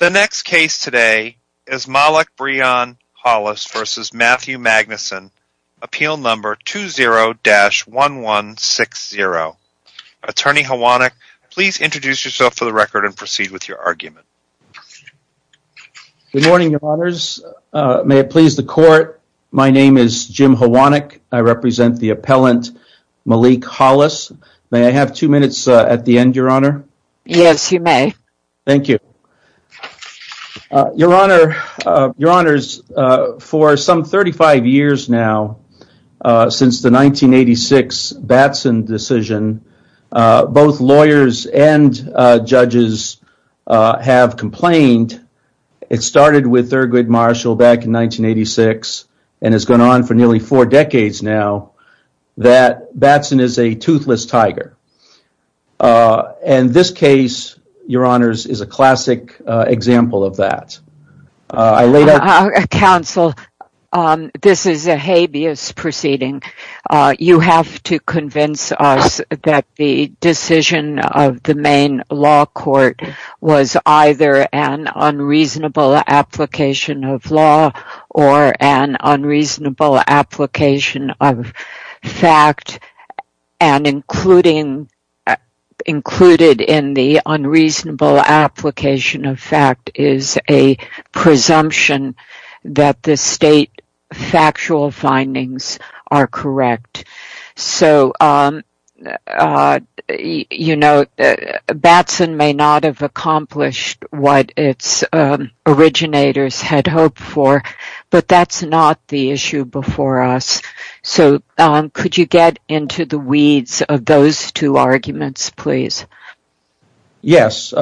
The next case today is Malik Breon Hollis v. Matthew Magnusson, appeal number 20-1160. Attorney Hwanek, please introduce yourself for the record and proceed with your argument. Good morning, your honors. May it please the court, my name is Jim Hwanek. I represent the appellant Malik Hollis. May I have two minutes at the end, your honor? Yes, you may. Thank you. Your honors, for some 35 years now, since the 1986 Batson decision, both lawyers and judges have complained. It started with Thurgood Marshall back in 1986 and has gone on for nearly four decades now that Batson is a toothless tiger. This case, your honors, is a classic example of that. Counsel, this is a habeas proceeding. You have to convince us that the decision of the unreasonable application of fact and included in the unreasonable application of fact is a presumption that the state factual findings are correct. Batson may not have accomplished what its originators had hoped for, but that's not the issue before us. Could you get into the weeds of those two arguments, please? Yes.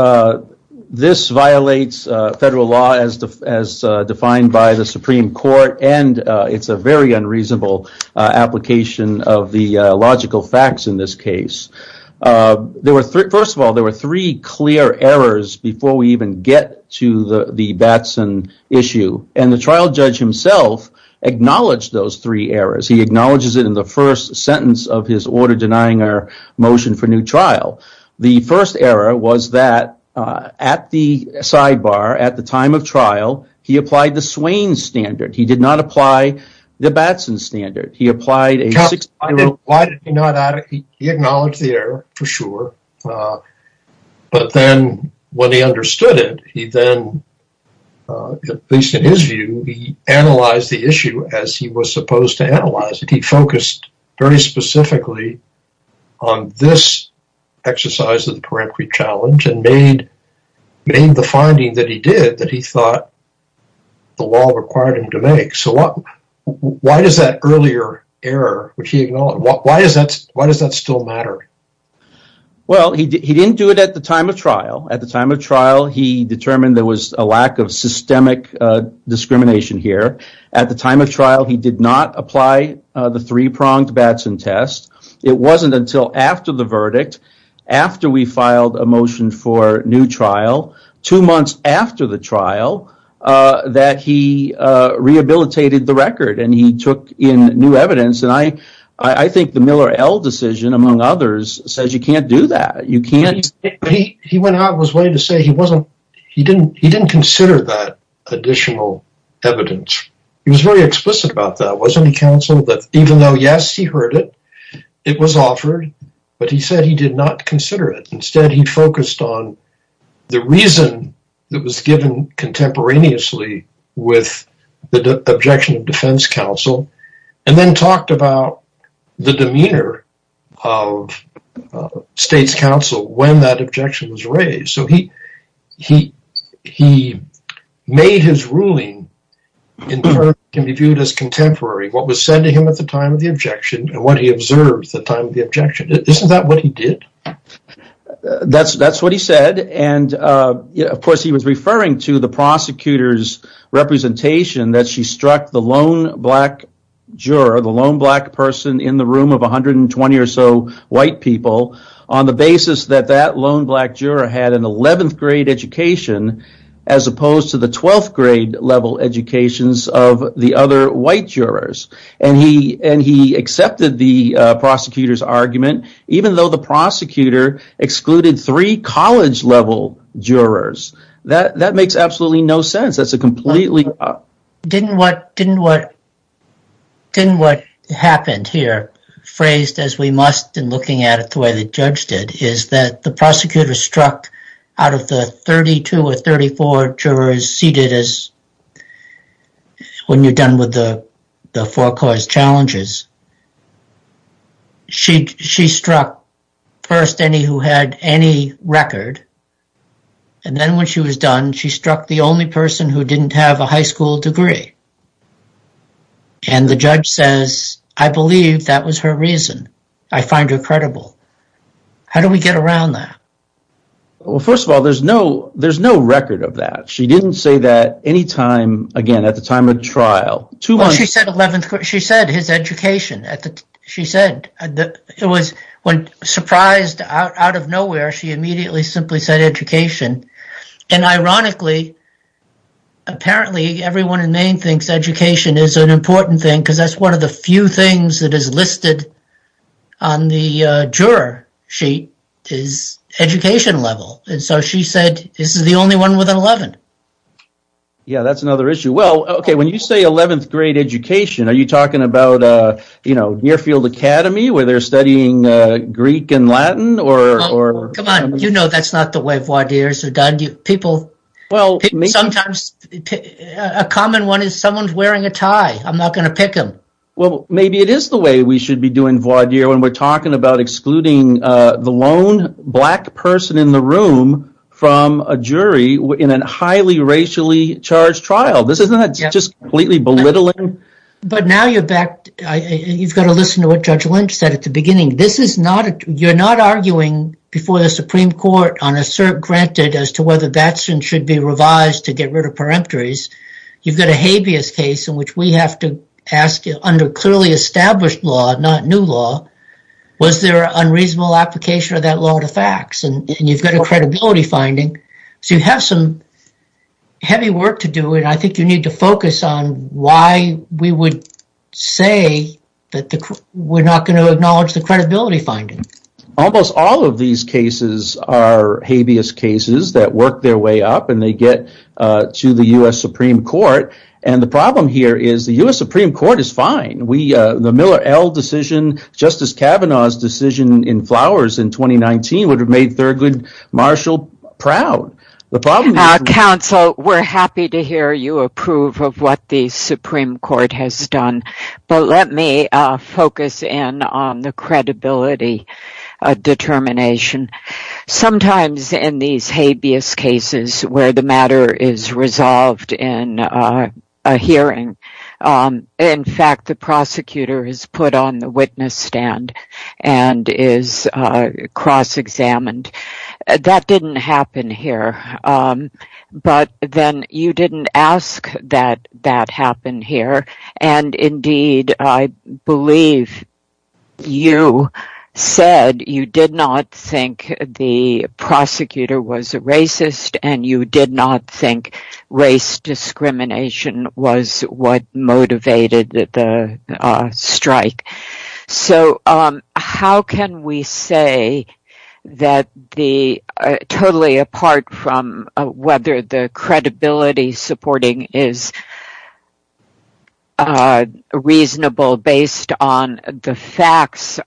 This violates federal law as defined by the Supreme Court and it's a very unreasonable application of the logical facts in this case. First of all, there were three clear errors before we even get to the Batson issue. The trial judge himself acknowledged those three errors. He acknowledges it in the first sentence of his order denying our motion for new trial. The first error was that at the sidebar at the time of trial, he applied the Swain standard. He did not apply the Batson standard. He acknowledged the error, for sure, but then when he understood it, he then, at least in his view, he analyzed the issue as he was supposed to analyze it. He focused very specifically on this exercise of the peremptory challenge and made the finding that he did that he thought the law required him to make. So why does that earlier error, which he acknowledged, why does that still matter? Well, he didn't do it at the time of trial. At the time of trial, he determined there was a lack of systemic discrimination here. At the time of trial, he did not apply the three-pronged Batson test. It wasn't until after the verdict, after we filed a motion for new trial, two months after the trial, that he rehabilitated the record and he took in new evidence. I think the Miller-Ell decision, among others, says you can't do that. He went out of his way to say he didn't consider that additional evidence. He was very explicit about that, wasn't he, counsel, that even though, yes, he heard it, it was offered, but he said he did not consider it. Instead, he focused on the reason that was given contemporaneously with the objection of defense counsel and then talked about the demeanor of state's counsel when that objection was raised. So he made his ruling in terms that can be viewed as contemporary, what was said to him at the time of the objection and what he observed at the time of the objection. Isn't that what he did? That's what he said. Of course, he was referring to the prosecutor's representation that she struck the lone black juror, the lone black person in the room of 120 or so white people, on the basis that that lone black juror had an 11th grade education as opposed to the 12th grade level educations of the other white jurors. He accepted the prosecutor's argument, even though the prosecutor excluded three college level jurors. That makes absolutely no sense. That's a completely... Didn't what happened here, phrased as we must in looking at it the way the judge did, is that the prosecutor struck out of the 32 or 34 jurors seated when you're done with the challenges. She struck first any who had any record and then when she was done, she struck the only person who didn't have a high school degree. And the judge says, I believe that was her reason. I find her credible. How do we get around that? Well, first of all, there's no record of that. She didn't say that again at the time of trial. She said his education. When surprised out of nowhere, she immediately simply said education. And ironically, apparently everyone in Maine thinks education is an important thing because that's one of the few things that is listed on the juror sheet is education level. And so she said, this is the only one with an 11. Yeah, that's another issue. Well, okay. When you say 11th grade education, are you talking about Nearfield Academy where they're studying Greek and Latin? Come on, you know that's not the way voir dire is done. A common one is someone's wearing a tie. I'm not going to pick them. Well, maybe it is the way we should be doing voir dire when we're talking about excluding the lone black person in the room from a jury in a highly racially charged trial. This is not just completely belittling. But now you've got to listen to what Judge Lynch said at the beginning. You're not arguing before the Supreme Court on a cert granted as to whether that should be revised to get rid of peremptories. You've got a habeas case in which we have to ask you under clearly established law, not new law, was there an unreasonable application of that law to facts? And you've got a credibility finding. So you have some heavy work to do. And I think you need to focus on why we would say that we're not going to acknowledge the credibility finding. Almost all of these cases are habeas cases that work their way up and they get to the U.S. Supreme Court. And the problem here is the U.S. Supreme Court is fine. The Miller L. decision, Justice Kavanaugh's decision in Flowers in 2019 would have made Thurgood Marshall proud. Counsel, we're happy to hear you approve of what the Supreme Court has done. But let me focus in on the credibility determination. Sometimes in these habeas cases where the matter is resolved in a hearing, in fact, the prosecutor is put on the witness stand and is cross examined. That didn't happen here. But then you didn't ask that that happened here. And indeed, I believe you said you did not think the prosecutor was a racist and you did not think race discrimination was what motivated the strike. So how can we say that the totally apart from whether the facts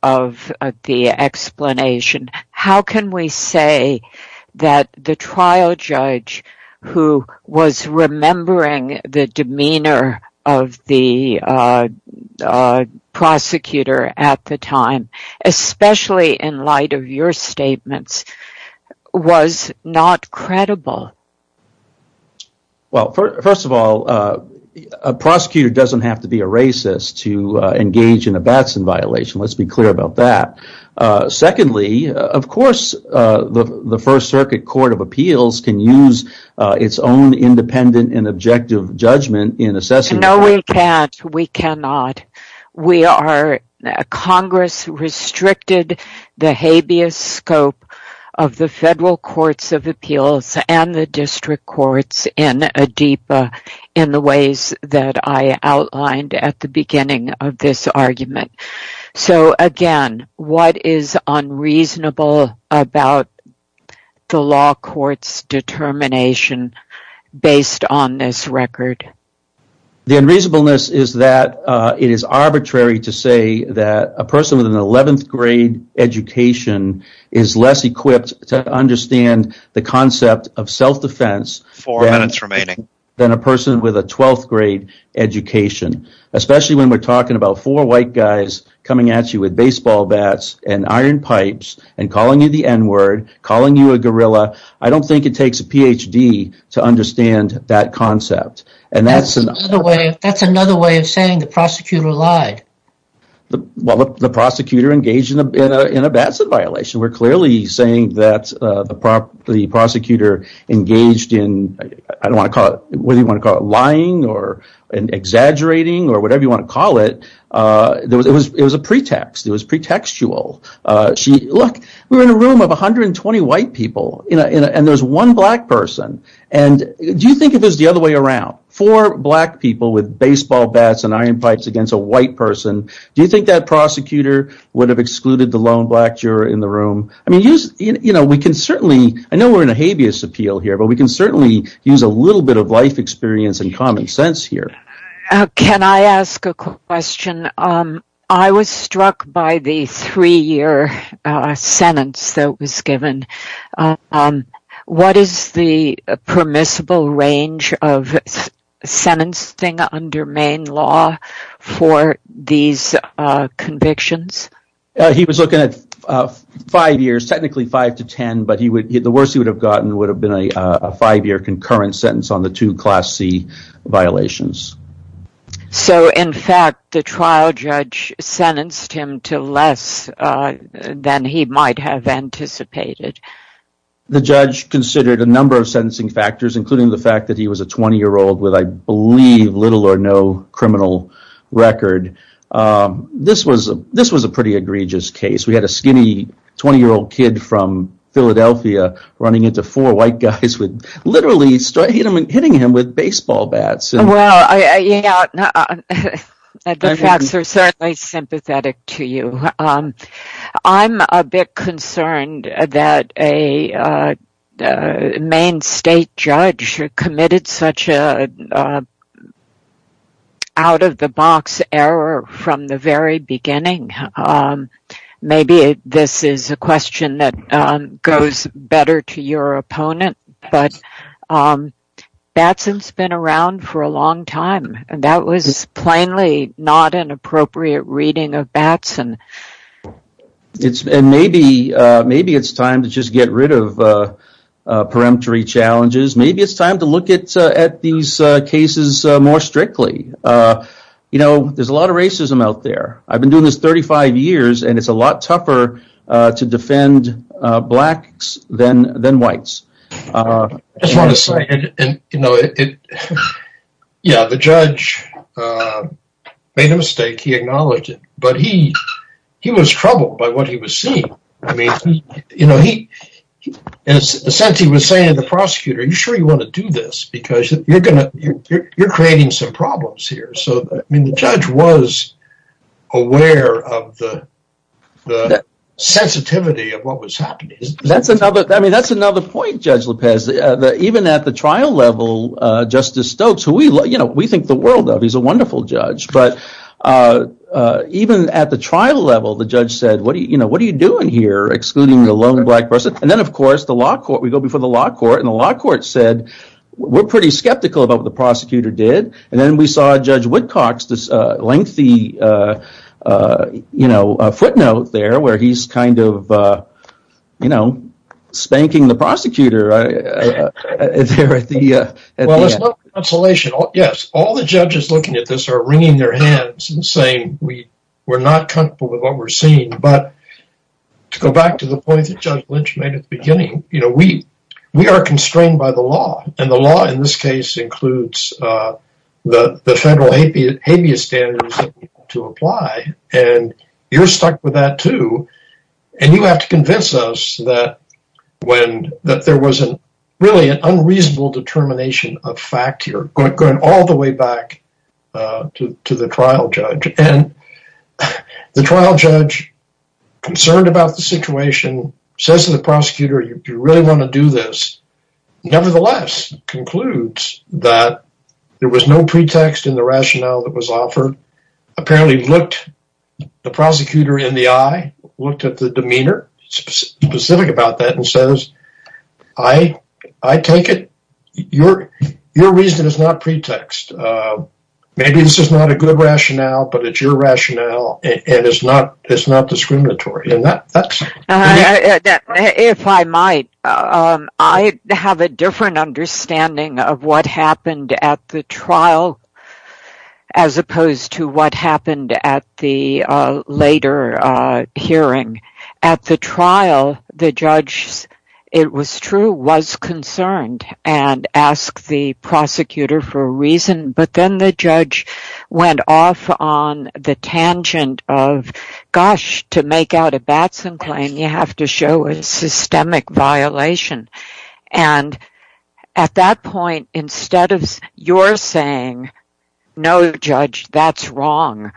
of the explanation, how can we say that the trial judge who was remembering the demeanor of the prosecutor at the time, especially in light of your statements, was not credible? Well, first of all, a prosecutor doesn't have to be a racist to engage in a Batson violation. Let's be clear about that. Secondly, of course, the First Circuit Court of Appeals can use its own independent and objective judgment in assessing. No, we can't. We cannot. Congress restricted the habeas scope of the federal courts of appeals and the district courts in ADIPA in the ways that I outlined at the beginning of this argument. So again, what is unreasonable about the law court's determination based on this record? The unreasonableness is that it is arbitrary to say that a person with an 11th grade education is less equipped to understand the concept of self-defense than a person with a 12th grade education, especially when we're talking about four white guys coming at you with baseball bats and iron pipes and calling you the n-word, calling you a guerrilla. I don't think it takes a PhD to understand that concept. That's another way of saying the prosecutor lied. Well, the prosecutor engaged in a Batson violation. We're clearly saying that the prosecutor engaged in lying or exaggerating or whatever you want to call it. It was a pretext. It was pretextual. Look, we're in a room of 120 white people and there's one black person. Do you think that prosecutor would have excluded the lone black juror in the room? I know we're in a habeas appeal here, but we can certainly use a little bit of life experience and common sense here. Can I ask a question? I was struck by the three-year sentence that was given. What is the permissible range of sentencing under Maine law for these convictions? He was looking at five years, technically five to ten, but the worst he would have gotten would have been a five-year concurrent sentence on the two class C violations. So, in fact, the trial judge sentenced him to less than he might have anticipated. The judge considered a number of sentencing factors, including the fact that he was a 20-year-old with, I believe, little or no criminal record. This was a pretty egregious case. We had a skinny 20-year-old kid from Philadelphia running into four white guys, literally hitting him with a bat. The facts are certainly sympathetic to you. I'm a bit concerned that a Maine state judge committed such an out-of-the-box error from the very beginning. Maybe this is a question that goes better to your opponent, but Batson's been around for a long time. That was plainly not an appropriate reading of Batson. Maybe it's time to just get rid of peremptory challenges. Maybe it's time to look at these cases more strictly. You know, there's a lot of racism out there. I've been doing this 35 years, and it's a lot tougher to defend blacks than whites. The judge made a mistake. He acknowledged it, but he was troubled by what he was seeing. In a sense, he was saying to the prosecutor, are you sure you want to do this? You're creating some problems here. The judge was aware of the sensitivity of what was happening. That's another point, Judge Lopez. Even at the trial level, Justice Stokes, who we think the world of, is a wonderful judge. Even at the trial level, the judge said, what are you doing here excluding the lone black person? Then, of course, we go before the law court, and the law court said, we're pretty skeptical about what the prosecutor did. Then, we saw Judge Woodcock's lengthy footnote where he's spanking the prosecutor. All the judges looking at this are wringing their hands and saying we're not comfortable with what we're seeing. To go back to the point that Judge Lynch made at the beginning, we are constrained by the law. The law, in this case, includes the federal habeas standards to apply. You're stuck with that too. You have to convince us that there was really an unreasonable determination of fact here, going all the way back to the trial judge. The trial judge, concerned about the situation, says to the prosecutor, you really want to do this. Nevertheless, concludes that there was no pretext in the rationale that was offered. Apparently, looked the prosecutor in the eye, looked at the demeanor specific about that, and says, I take it your reason is not pretext. Maybe this is not a good rationale, but it's rationale and it's not discriminatory. If I might, I have a different understanding of what happened at the trial as opposed to what happened at the later hearing. At the trial, the judge, it was true, was concerned and asked the prosecutor for a reason, but then the judge went off on the tangent of, gosh, to make out a Batson claim, you have to show a systemic violation. At that point, instead of your saying, no, judge, that's wrong,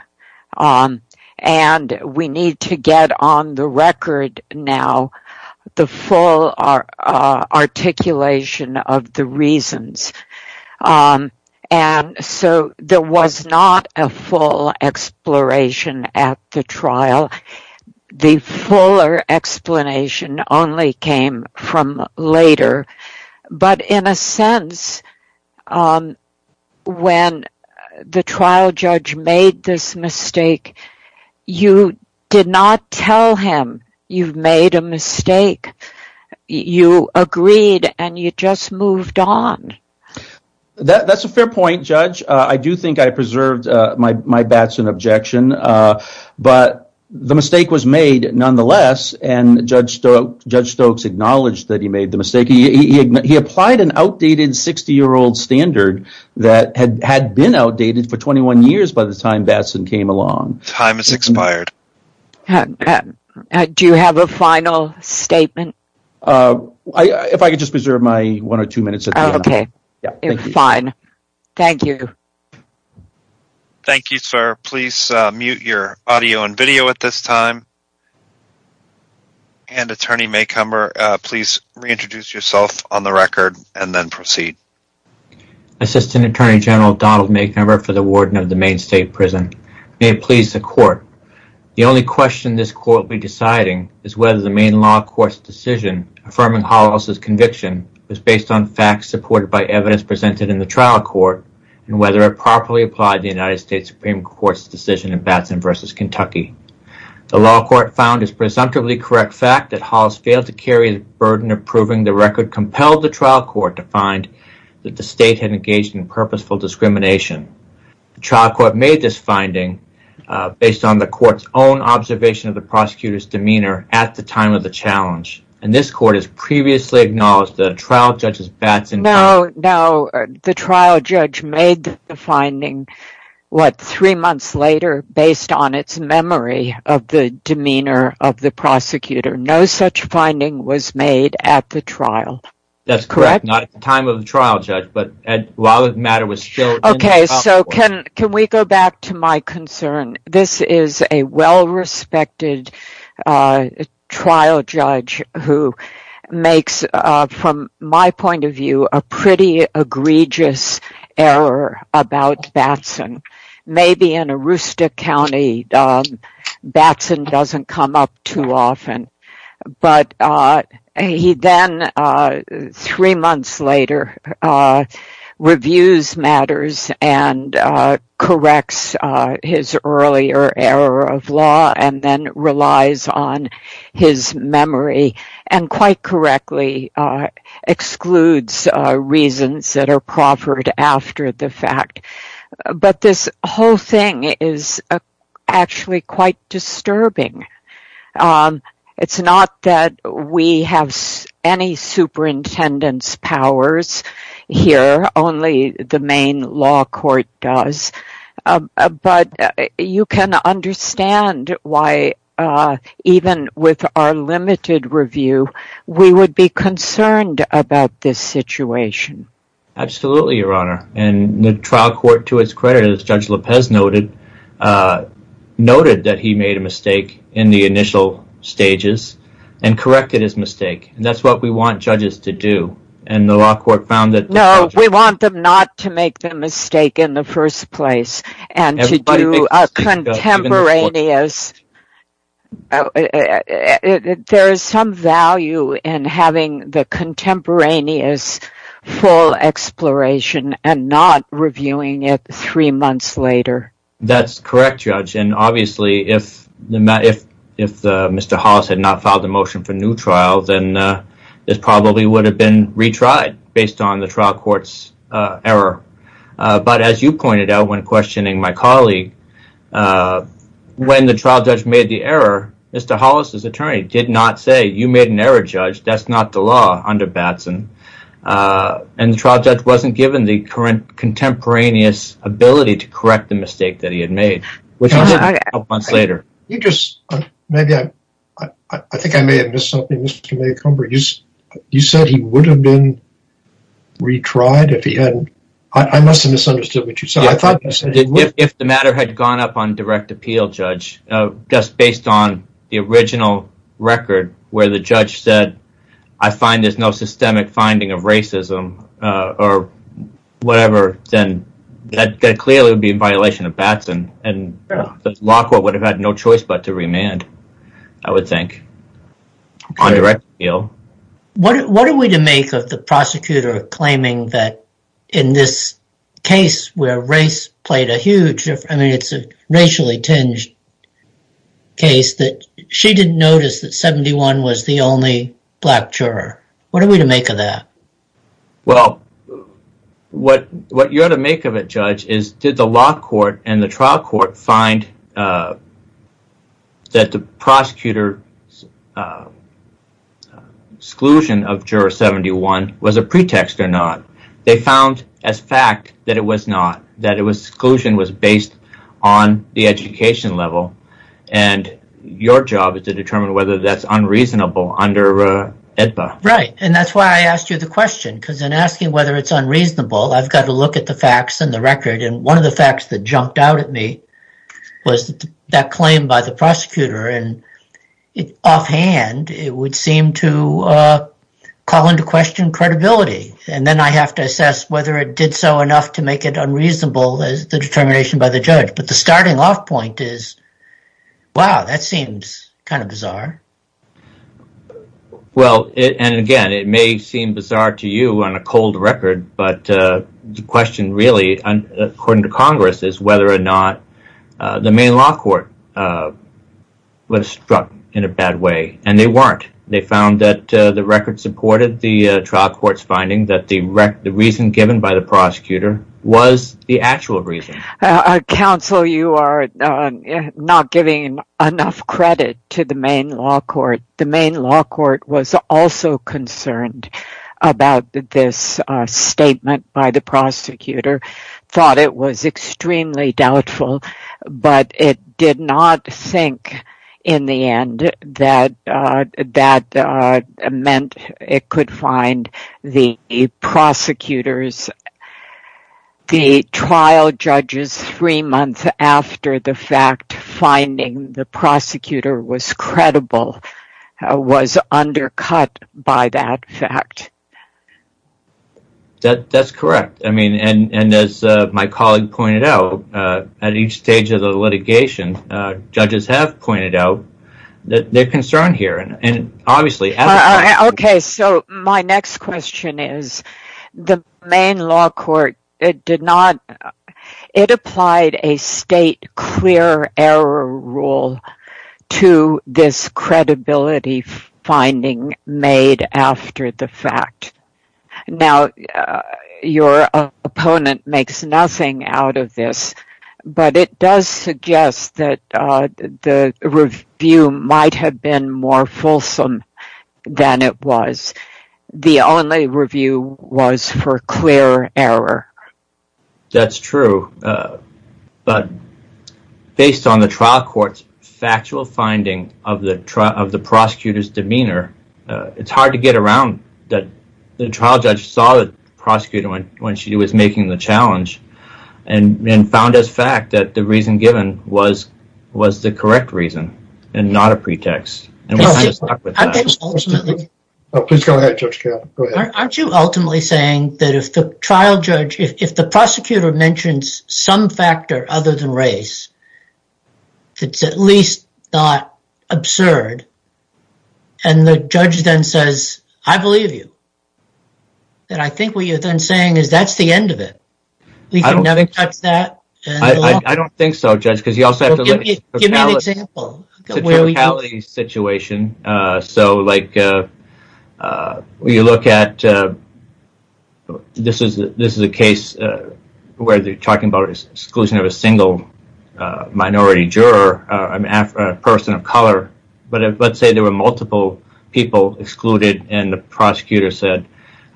and we need to get on the record now, the full articulation of the reasons. There was not a full exploration at the trial. The full explanation only came from later, but in a sense, when the trial judge made this mistake, you did not tell him you've made a mistake. You agreed and you just moved on. That's a fair point, judge. I do think I preserved my Batson objection, but the mistake was made, nonetheless, and Judge Stokes acknowledged that he made the mistake. He applied an outdated 60-year-old that had been outdated for 21 years by the time Batson came along. Do you have a final statement? If I could just preserve my one or two minutes. Fine. Thank you. Thank you, sir. Please mute your audio and video at this time. Attorney Maycomber, please reintroduce yourself on the record and then proceed. Assistant Attorney General Donald Maycomber for the Warden of the Maine State Prison. May it please the Court, the only question this Court will be deciding is whether the Maine Law Court's decision affirming Hollis' conviction was based on facts supported by evidence presented in the trial court and whether it properly applied the United States Supreme Court's decision in Batson v. Kentucky. The law court found it presumptively correct fact that Hollis failed to carry the burden of proving the record compelled the trial court to find that the state had engaged in purposeful discrimination. The trial court made this finding based on the court's own observation of the prosecutor's demeanor at the time of the challenge, and this Court has previously acknowledged that a trial judge's Batson... No, no. The trial judge made the finding, what, three months later, based on its memory of the demeanor of the prosecutor. No such finding was made at the trial. That's correct, not at the time of the trial judge, but while the matter was still... Okay, so can we go back to my concern? This is a well-respected trial judge who makes, from my point of view, a pretty egregious error about Batson. Maybe in Arusta County, Batson doesn't come up too often, but he then, three months later, reviews matters and corrects his earlier error of law and then relies on his memory and quite correctly excludes reasons that disturb him. It's not that we have any superintendent's powers here, only the main law court does, but you can understand why, even with our limited review, we would be concerned about this situation. Absolutely, Your Honor, and the trial court, to its credit, as Judge Lopez noted, noted that he made a mistake in the initial stages and corrected his mistake, and that's what we want judges to do, and the law court found that... No, we want them not to make the mistake in the first place and to do a contemporaneous... three months later. That's correct, Judge, and obviously, if Mr. Hollis had not filed a motion for a new trial, then this probably would have been retried based on the trial court's error, but as you pointed out when questioning my colleague, when the trial judge made the error, Mr. Hollis's attorney did not say, you made an error, Judge, that's not the law under Batson, and the trial judge wasn't given the current contemporaneous ability to correct the mistake that he had made, which he did a couple months later. You just, maybe I think I may have missed something, Mr. Maycomber. You said he would have been retried if he hadn't. I must have misunderstood what you said. I thought you said... If the matter had gone up on direct appeal, Judge, just based on the original record where the judge said, I find there's no systemic finding of racism or whatever, then that clearly would be in violation of Batson, and the law court would have had no choice but to remand, I would think, on direct appeal. What are we to make of the prosecutor claiming that in this case where race played a huge... I mean, it's a racially tinged case that she didn't notice that 71 was the only black juror. What are we to make of that? Well, what you ought to make of it, Judge, is did the law court and the trial court find that the prosecutor's exclusion of juror 71 was a pretext or not? They found as fact that it was based on the education level, and your job is to determine whether that's unreasonable under AEDPA. Right, and that's why I asked you the question, because in asking whether it's unreasonable, I've got to look at the facts and the record, and one of the facts that jumped out at me was that claim by the prosecutor, and offhand, it would seem to call into question credibility, and then I have to assess whether it did so enough to make it unreasonable as the determination by the judge, but the starting off point is, wow, that seems kind of bizarre. Well, and again, it may seem bizarre to you on a cold record, but the question really, according to Congress, is whether or not the main law court was struck in a bad way, and they weren't. They found that the record supported the trial court's finding that the reason given by the prosecutor was the actual reason. Counsel, you are not giving enough credit to the main law court. The main law court was also concerned about this statement by the prosecutor, thought it was extremely doubtful, but it did not think in the end that that meant it could find the prosecutors. The trial judges three months after the fact finding the prosecutor was credible was undercut by that fact. That's correct, and as my colleague pointed out, at each stage of the litigation, judges have pointed out that they're concerned here. Okay, so my next question is, the main law court, it applied a state clear error rule to this credibility finding made after the fact. Now, your opponent makes nothing out of this, but it does suggest that the review might have been more fulsome than it was. The only review was for clear error. That's true, but based on the trial court's factual finding of the prosecutor's demeanor, it's hard to get around that the trial judge saw the prosecutor when she was making the challenge and found as fact that the reason for that. Aren't you ultimately saying that if the trial judge, if the prosecutor mentions some factor other than race, it's at least not absurd, and the judge then says, I believe you, that I think what you're then saying is that's the end of it. I don't think so, judge, because you also have to give me an example. It's a totality situation. This is a case where they're talking about exclusion of a single minority juror, a person of color, but let's say there were multiple people excluded, and the prosecutor said,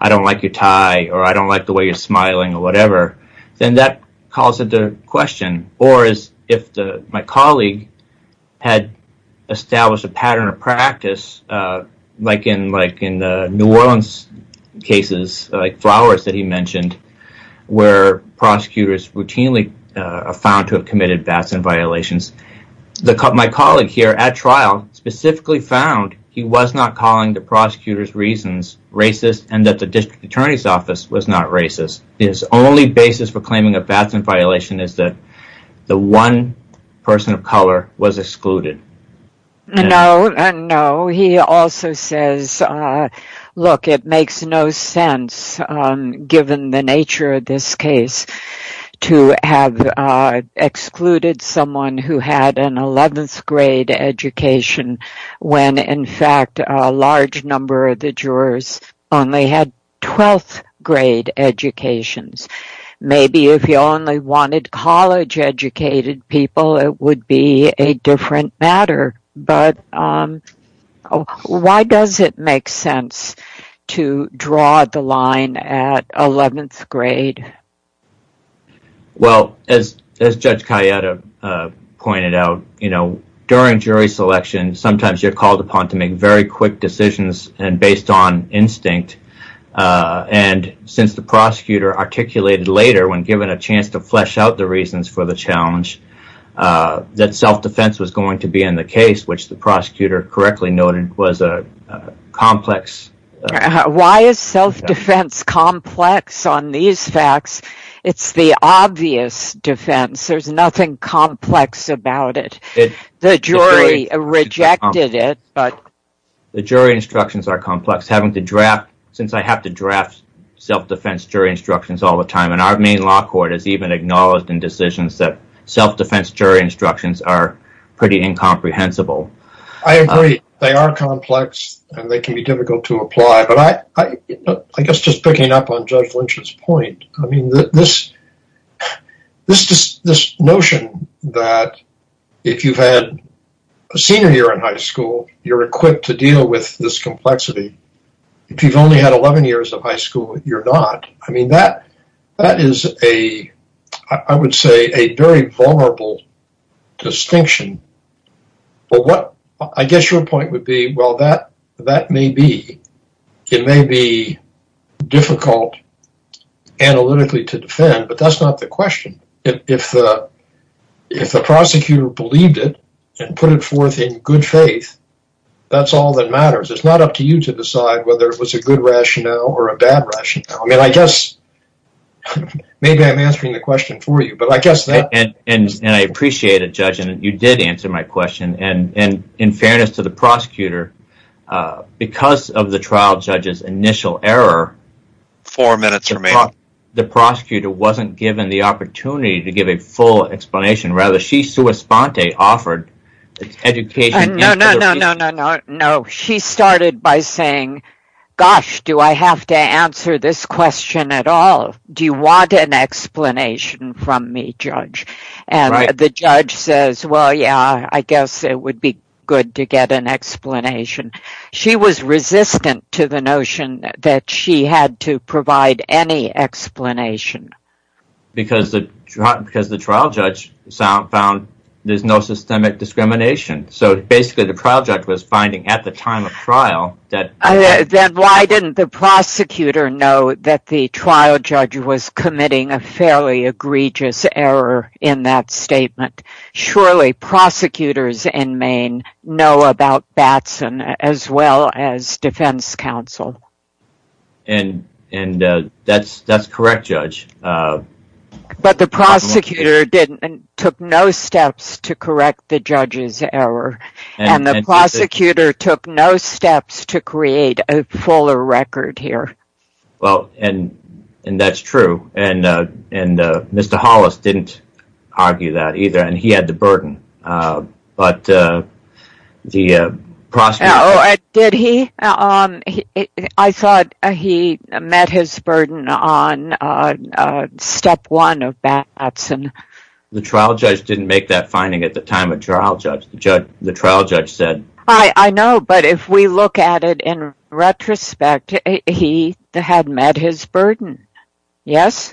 I don't like your tie, or I don't like the way you're smiling, or whatever, then that calls into question, or if my colleague had established a pattern of practice, like in the New Orleans cases, like Flowers that he mentioned, where prosecutors routinely found to have committed violations, my colleague here at trial specifically found he was not calling the prosecutor's reasons racist and that the district attorney's office was not racist. His only basis for claiming a pattern violation is that the one person of color was excluded. No, no. He also says, look, it makes no sense, given the nature of this case, to have excluded someone who had an 11th grade education when, in fact, a large number of the Maybe if you only wanted college-educated people, it would be a different matter, but why does it make sense to draw the line at 11th grade? Well, as Judge Cayetta pointed out, during jury selection, sometimes you're called upon to make very quick decisions based on instinct, and since the prosecutor articulated later, when given a chance to flesh out the reasons for the challenge, that self-defense was going to be in the case, which the prosecutor correctly noted was a complex Why is self-defense complex on these facts? It's the obvious defense. There's nothing complex about it. The jury rejected it. The jury instructions are complex. Since I have to draft self-defense jury instructions all the time, and our main law court has even acknowledged in decisions that self-defense jury instructions are pretty incomprehensible. I agree. They are complex, and they can be difficult to apply, but I guess just picking up on Judge Lynch's point, I mean, this notion that if you've had a senior year in high school, you're equipped to deal with this complexity. If you've only had 11 years of high school, you're not. I mean, that is a, I would say, a very vulnerable distinction. I guess your point would be, well, that may be difficult analytically to defend, but that's not the question. If the prosecutor believed it, and put it forth in good faith, that's all that matters. It's not up to you to decide whether it was a good rationale or a bad rationale. I mean, I guess maybe I'm answering the question for you, but I guess that... And I appreciate it, Judge, and you did answer my question, and in fairness to the prosecutor, because of the trial judge's initial error... Four minutes remain. ...the prosecutor wasn't given the opportunity to give a full explanation. Rather, she, sua sponte, offered education... No, no, no, no, no, no. She started by saying, gosh, do I have to answer this question at all? Do you want an explanation from me, Judge? And the judge says, well, yeah, I guess it would be good to get an explanation. She was resistant to the notion that she had to provide any explanation. Because the trial judge found there's no systemic discrimination. So, basically, the trial judge was finding at the time of trial that... Then why didn't the prosecutor know that the trial judge was committing a fairly egregious error in that statement? Surely prosecutors in Maine know about Batson as well as defense counsel. And that's correct, Judge. But the prosecutor took no steps to correct the judge's error, and the prosecutor took no steps to create a fuller record here. Well, and that's true. And Mr. Hollis didn't argue that either, and he had the burden. But the prosecutor... Oh, did he? I thought he met his burden on step one of Batson. The trial judge didn't make that finding at the time of trial, the trial judge said. I know, but if we look at it in retrospect, he had met his burden, yes?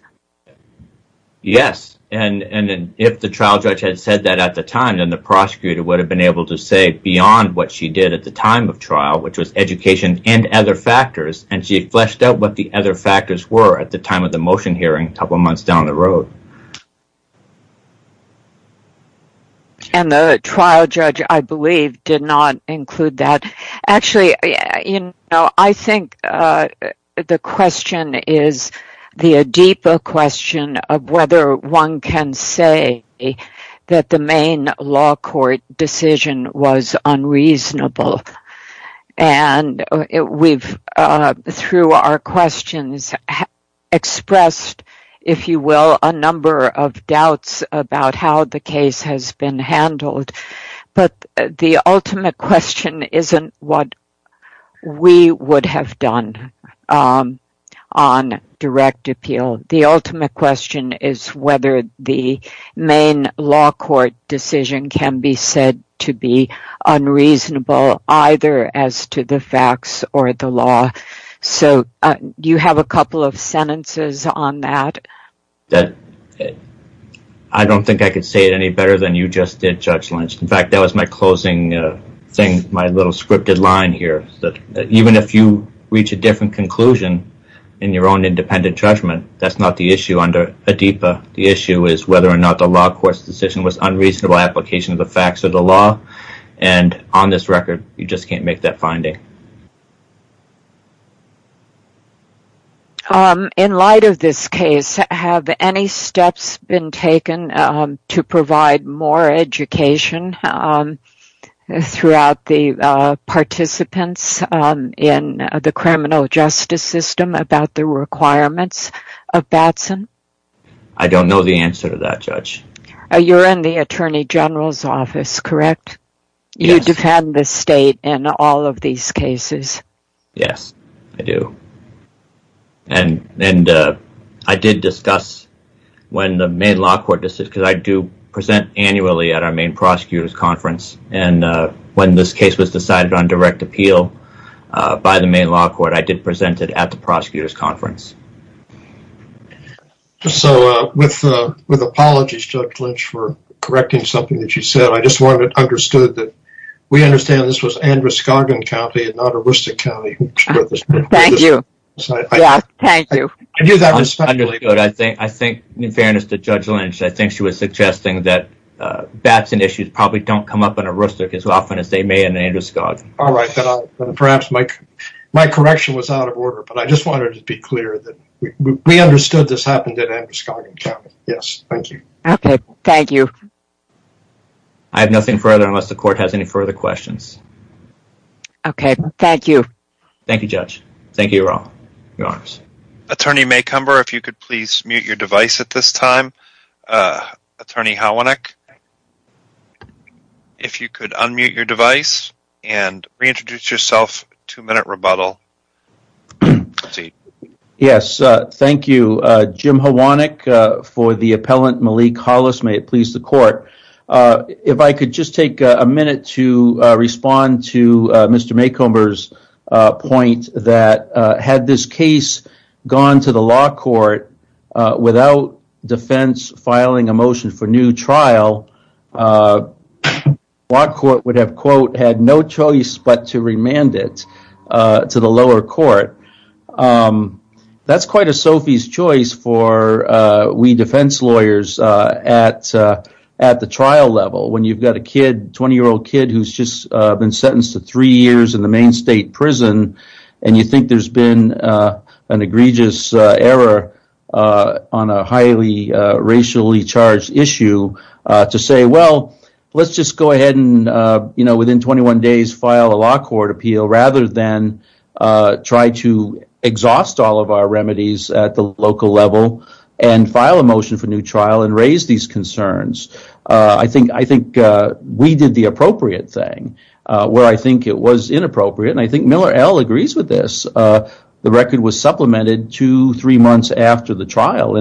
Yes, and if the trial judge had said that at the time, then the prosecutor would have been able to say beyond what she did at the time of trial, which was education and other factors, and she fleshed out what the other factors were at the time of the motion hearing a couple months down the road. And the trial judge, I believe, did not include that. Actually, I think the question is the deeper question of whether one can say that the Maine law court decision was unreasonable, either as to the facts or the law. So, do you have a couple of sentences on that? That... I don't think I could say it any better than you just did, Judge Lynch. In fact, that was my closing thing, my little scripted line here. Even if you reach a different conclusion in your own independent judgment, that's not the issue under ADIPA. The issue is whether or not the law court's decision was unreasonable application of the facts of the law, and on this record, you just can't make that finding. In light of this case, have any steps been taken to provide more education throughout the participants in the criminal justice system about the requirements of Batson? I don't know the answer to that, Judge. You're in the Attorney General's office, correct? You defend the state in all of these cases? Yes, I do. And I did discuss when the Maine law court decision, because I do present annually at our Maine Prosecutors Conference, and when this case was decided on direct appeal by the Maine law court, I did present it at the Prosecutors Conference. So, with apologies, Judge Lynch, for correcting something that you said, I just want it understood that we understand this was Androscoggin County and not Aroostook County. Thank you. Yeah, thank you. I think, in fairness to Judge Lynch, I think she was suggesting that Batson issues probably don't come up in Aroostook as often as they may in Androscoggin. All right, perhaps my correction was out of order, but I just wanted to be clear that we understood this happened in Androscoggin County. Yes, thank you. Okay, thank you. I have nothing further unless the court has any further questions. Okay, thank you. Thank you, Judge. Thank you all. Your Honors. Attorney Maycomber, if you could please mute your device at this time. Attorney Hwanek, if you could unmute your device and reintroduce yourself. Two-minute rebuttal. Yes, thank you. Jim Hwanek for the appellant Malik Hollis. May it please the court. If I could just take a minute to respond to Mr. Maycomber's point that had this case gone to the law court without defense filing a motion for new trial, law court would have, quote, had no choice but to remand it to the lower court. That's quite a Sophie's choice for we defense lawyers at the trial level when you've got a kid, 20-year-old kid who's just been sentenced to three years in the main state prison and you think there's been an egregious error on a highly racially charged issue to say, well, let's just go ahead and, you know, within 21 days file a law court appeal rather than try to exhaust all of our remedies at the local level and file a motion for new trial and raise these concerns. I think we did the appropriate thing where I think it was inappropriate and I agree with this. The record was supplemented two or three months after the trial.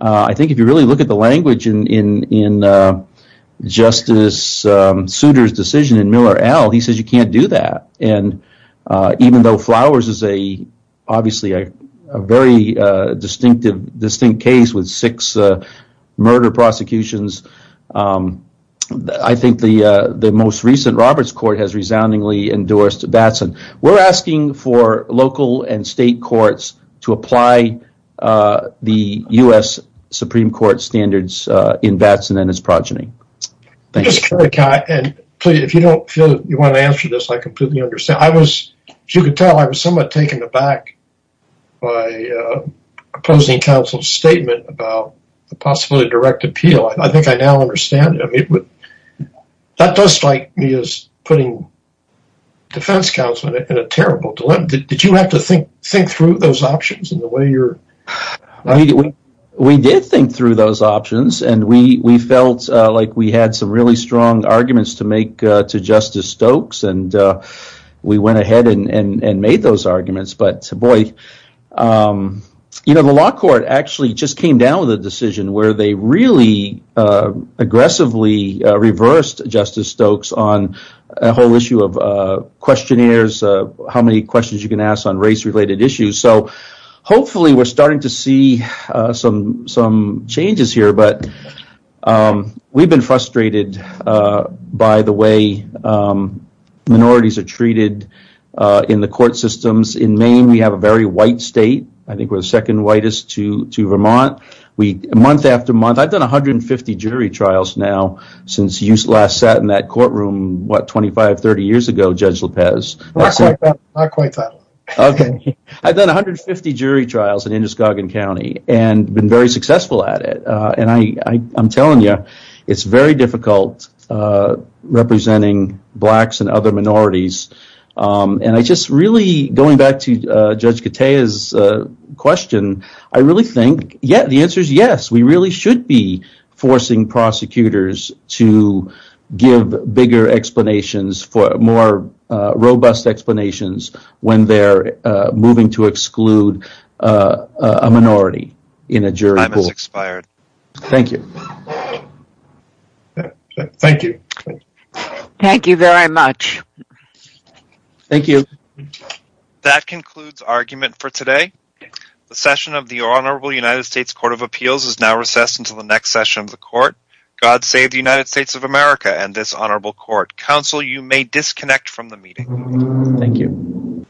I think if you really look at the language in Justice Souter's decision in Miller L., he says you can't do that. Even though Flowers is obviously a very distinct case with six murder prosecutions, I think the most recent Roberts Court has resoundingly endorsed Batson. We're asking for local and state courts to apply the U.S. Supreme Court standards in Batson and his progeny. If you don't feel you want to answer this, I completely understand. I was, as you can tell, I was somewhat taken aback by opposing counsel's statement about the possibility of direct appeal. I think I now understand. That does strike me as putting defense counsel in a terrible dilemma. Did you have to think through those options? We did think through those options and we felt like we had some really strong arguments to make to Justice Stokes. We went ahead and made those arguments. The law court actually just came down with a decision where they really aggressively reversed Justice Stokes on a whole issue of questionnaires, how many questions you can ask on race-related issues. Hopefully, we're starting to see some changes here, but we've been frustrated by the way minorities are treated in the court systems. In Maine, we have a very white state. I think month after month, I've done 150 jury trials now since you last sat in that courtroom 25-30 years ago, Judge Lopez. I've done 150 jury trials in Indiscognizant County and been very successful at it. I'm telling you, it's very difficult representing blacks and other minorities. And I just really, going back to Judge Katea's question, I really think the answer is yes, we really should be forcing prosecutors to give bigger explanations, more robust explanations when they're moving to exclude a minority in a jury pool. Time has expired. Thank you. Thank you. Thank you very much. Thank you. That concludes our argument for today. The session of the Honorable United States Court of Appeals is now recessed until the next session of the court. God save the United States of America and this honorable court. Counsel, you may disconnect from the meeting. Thank you.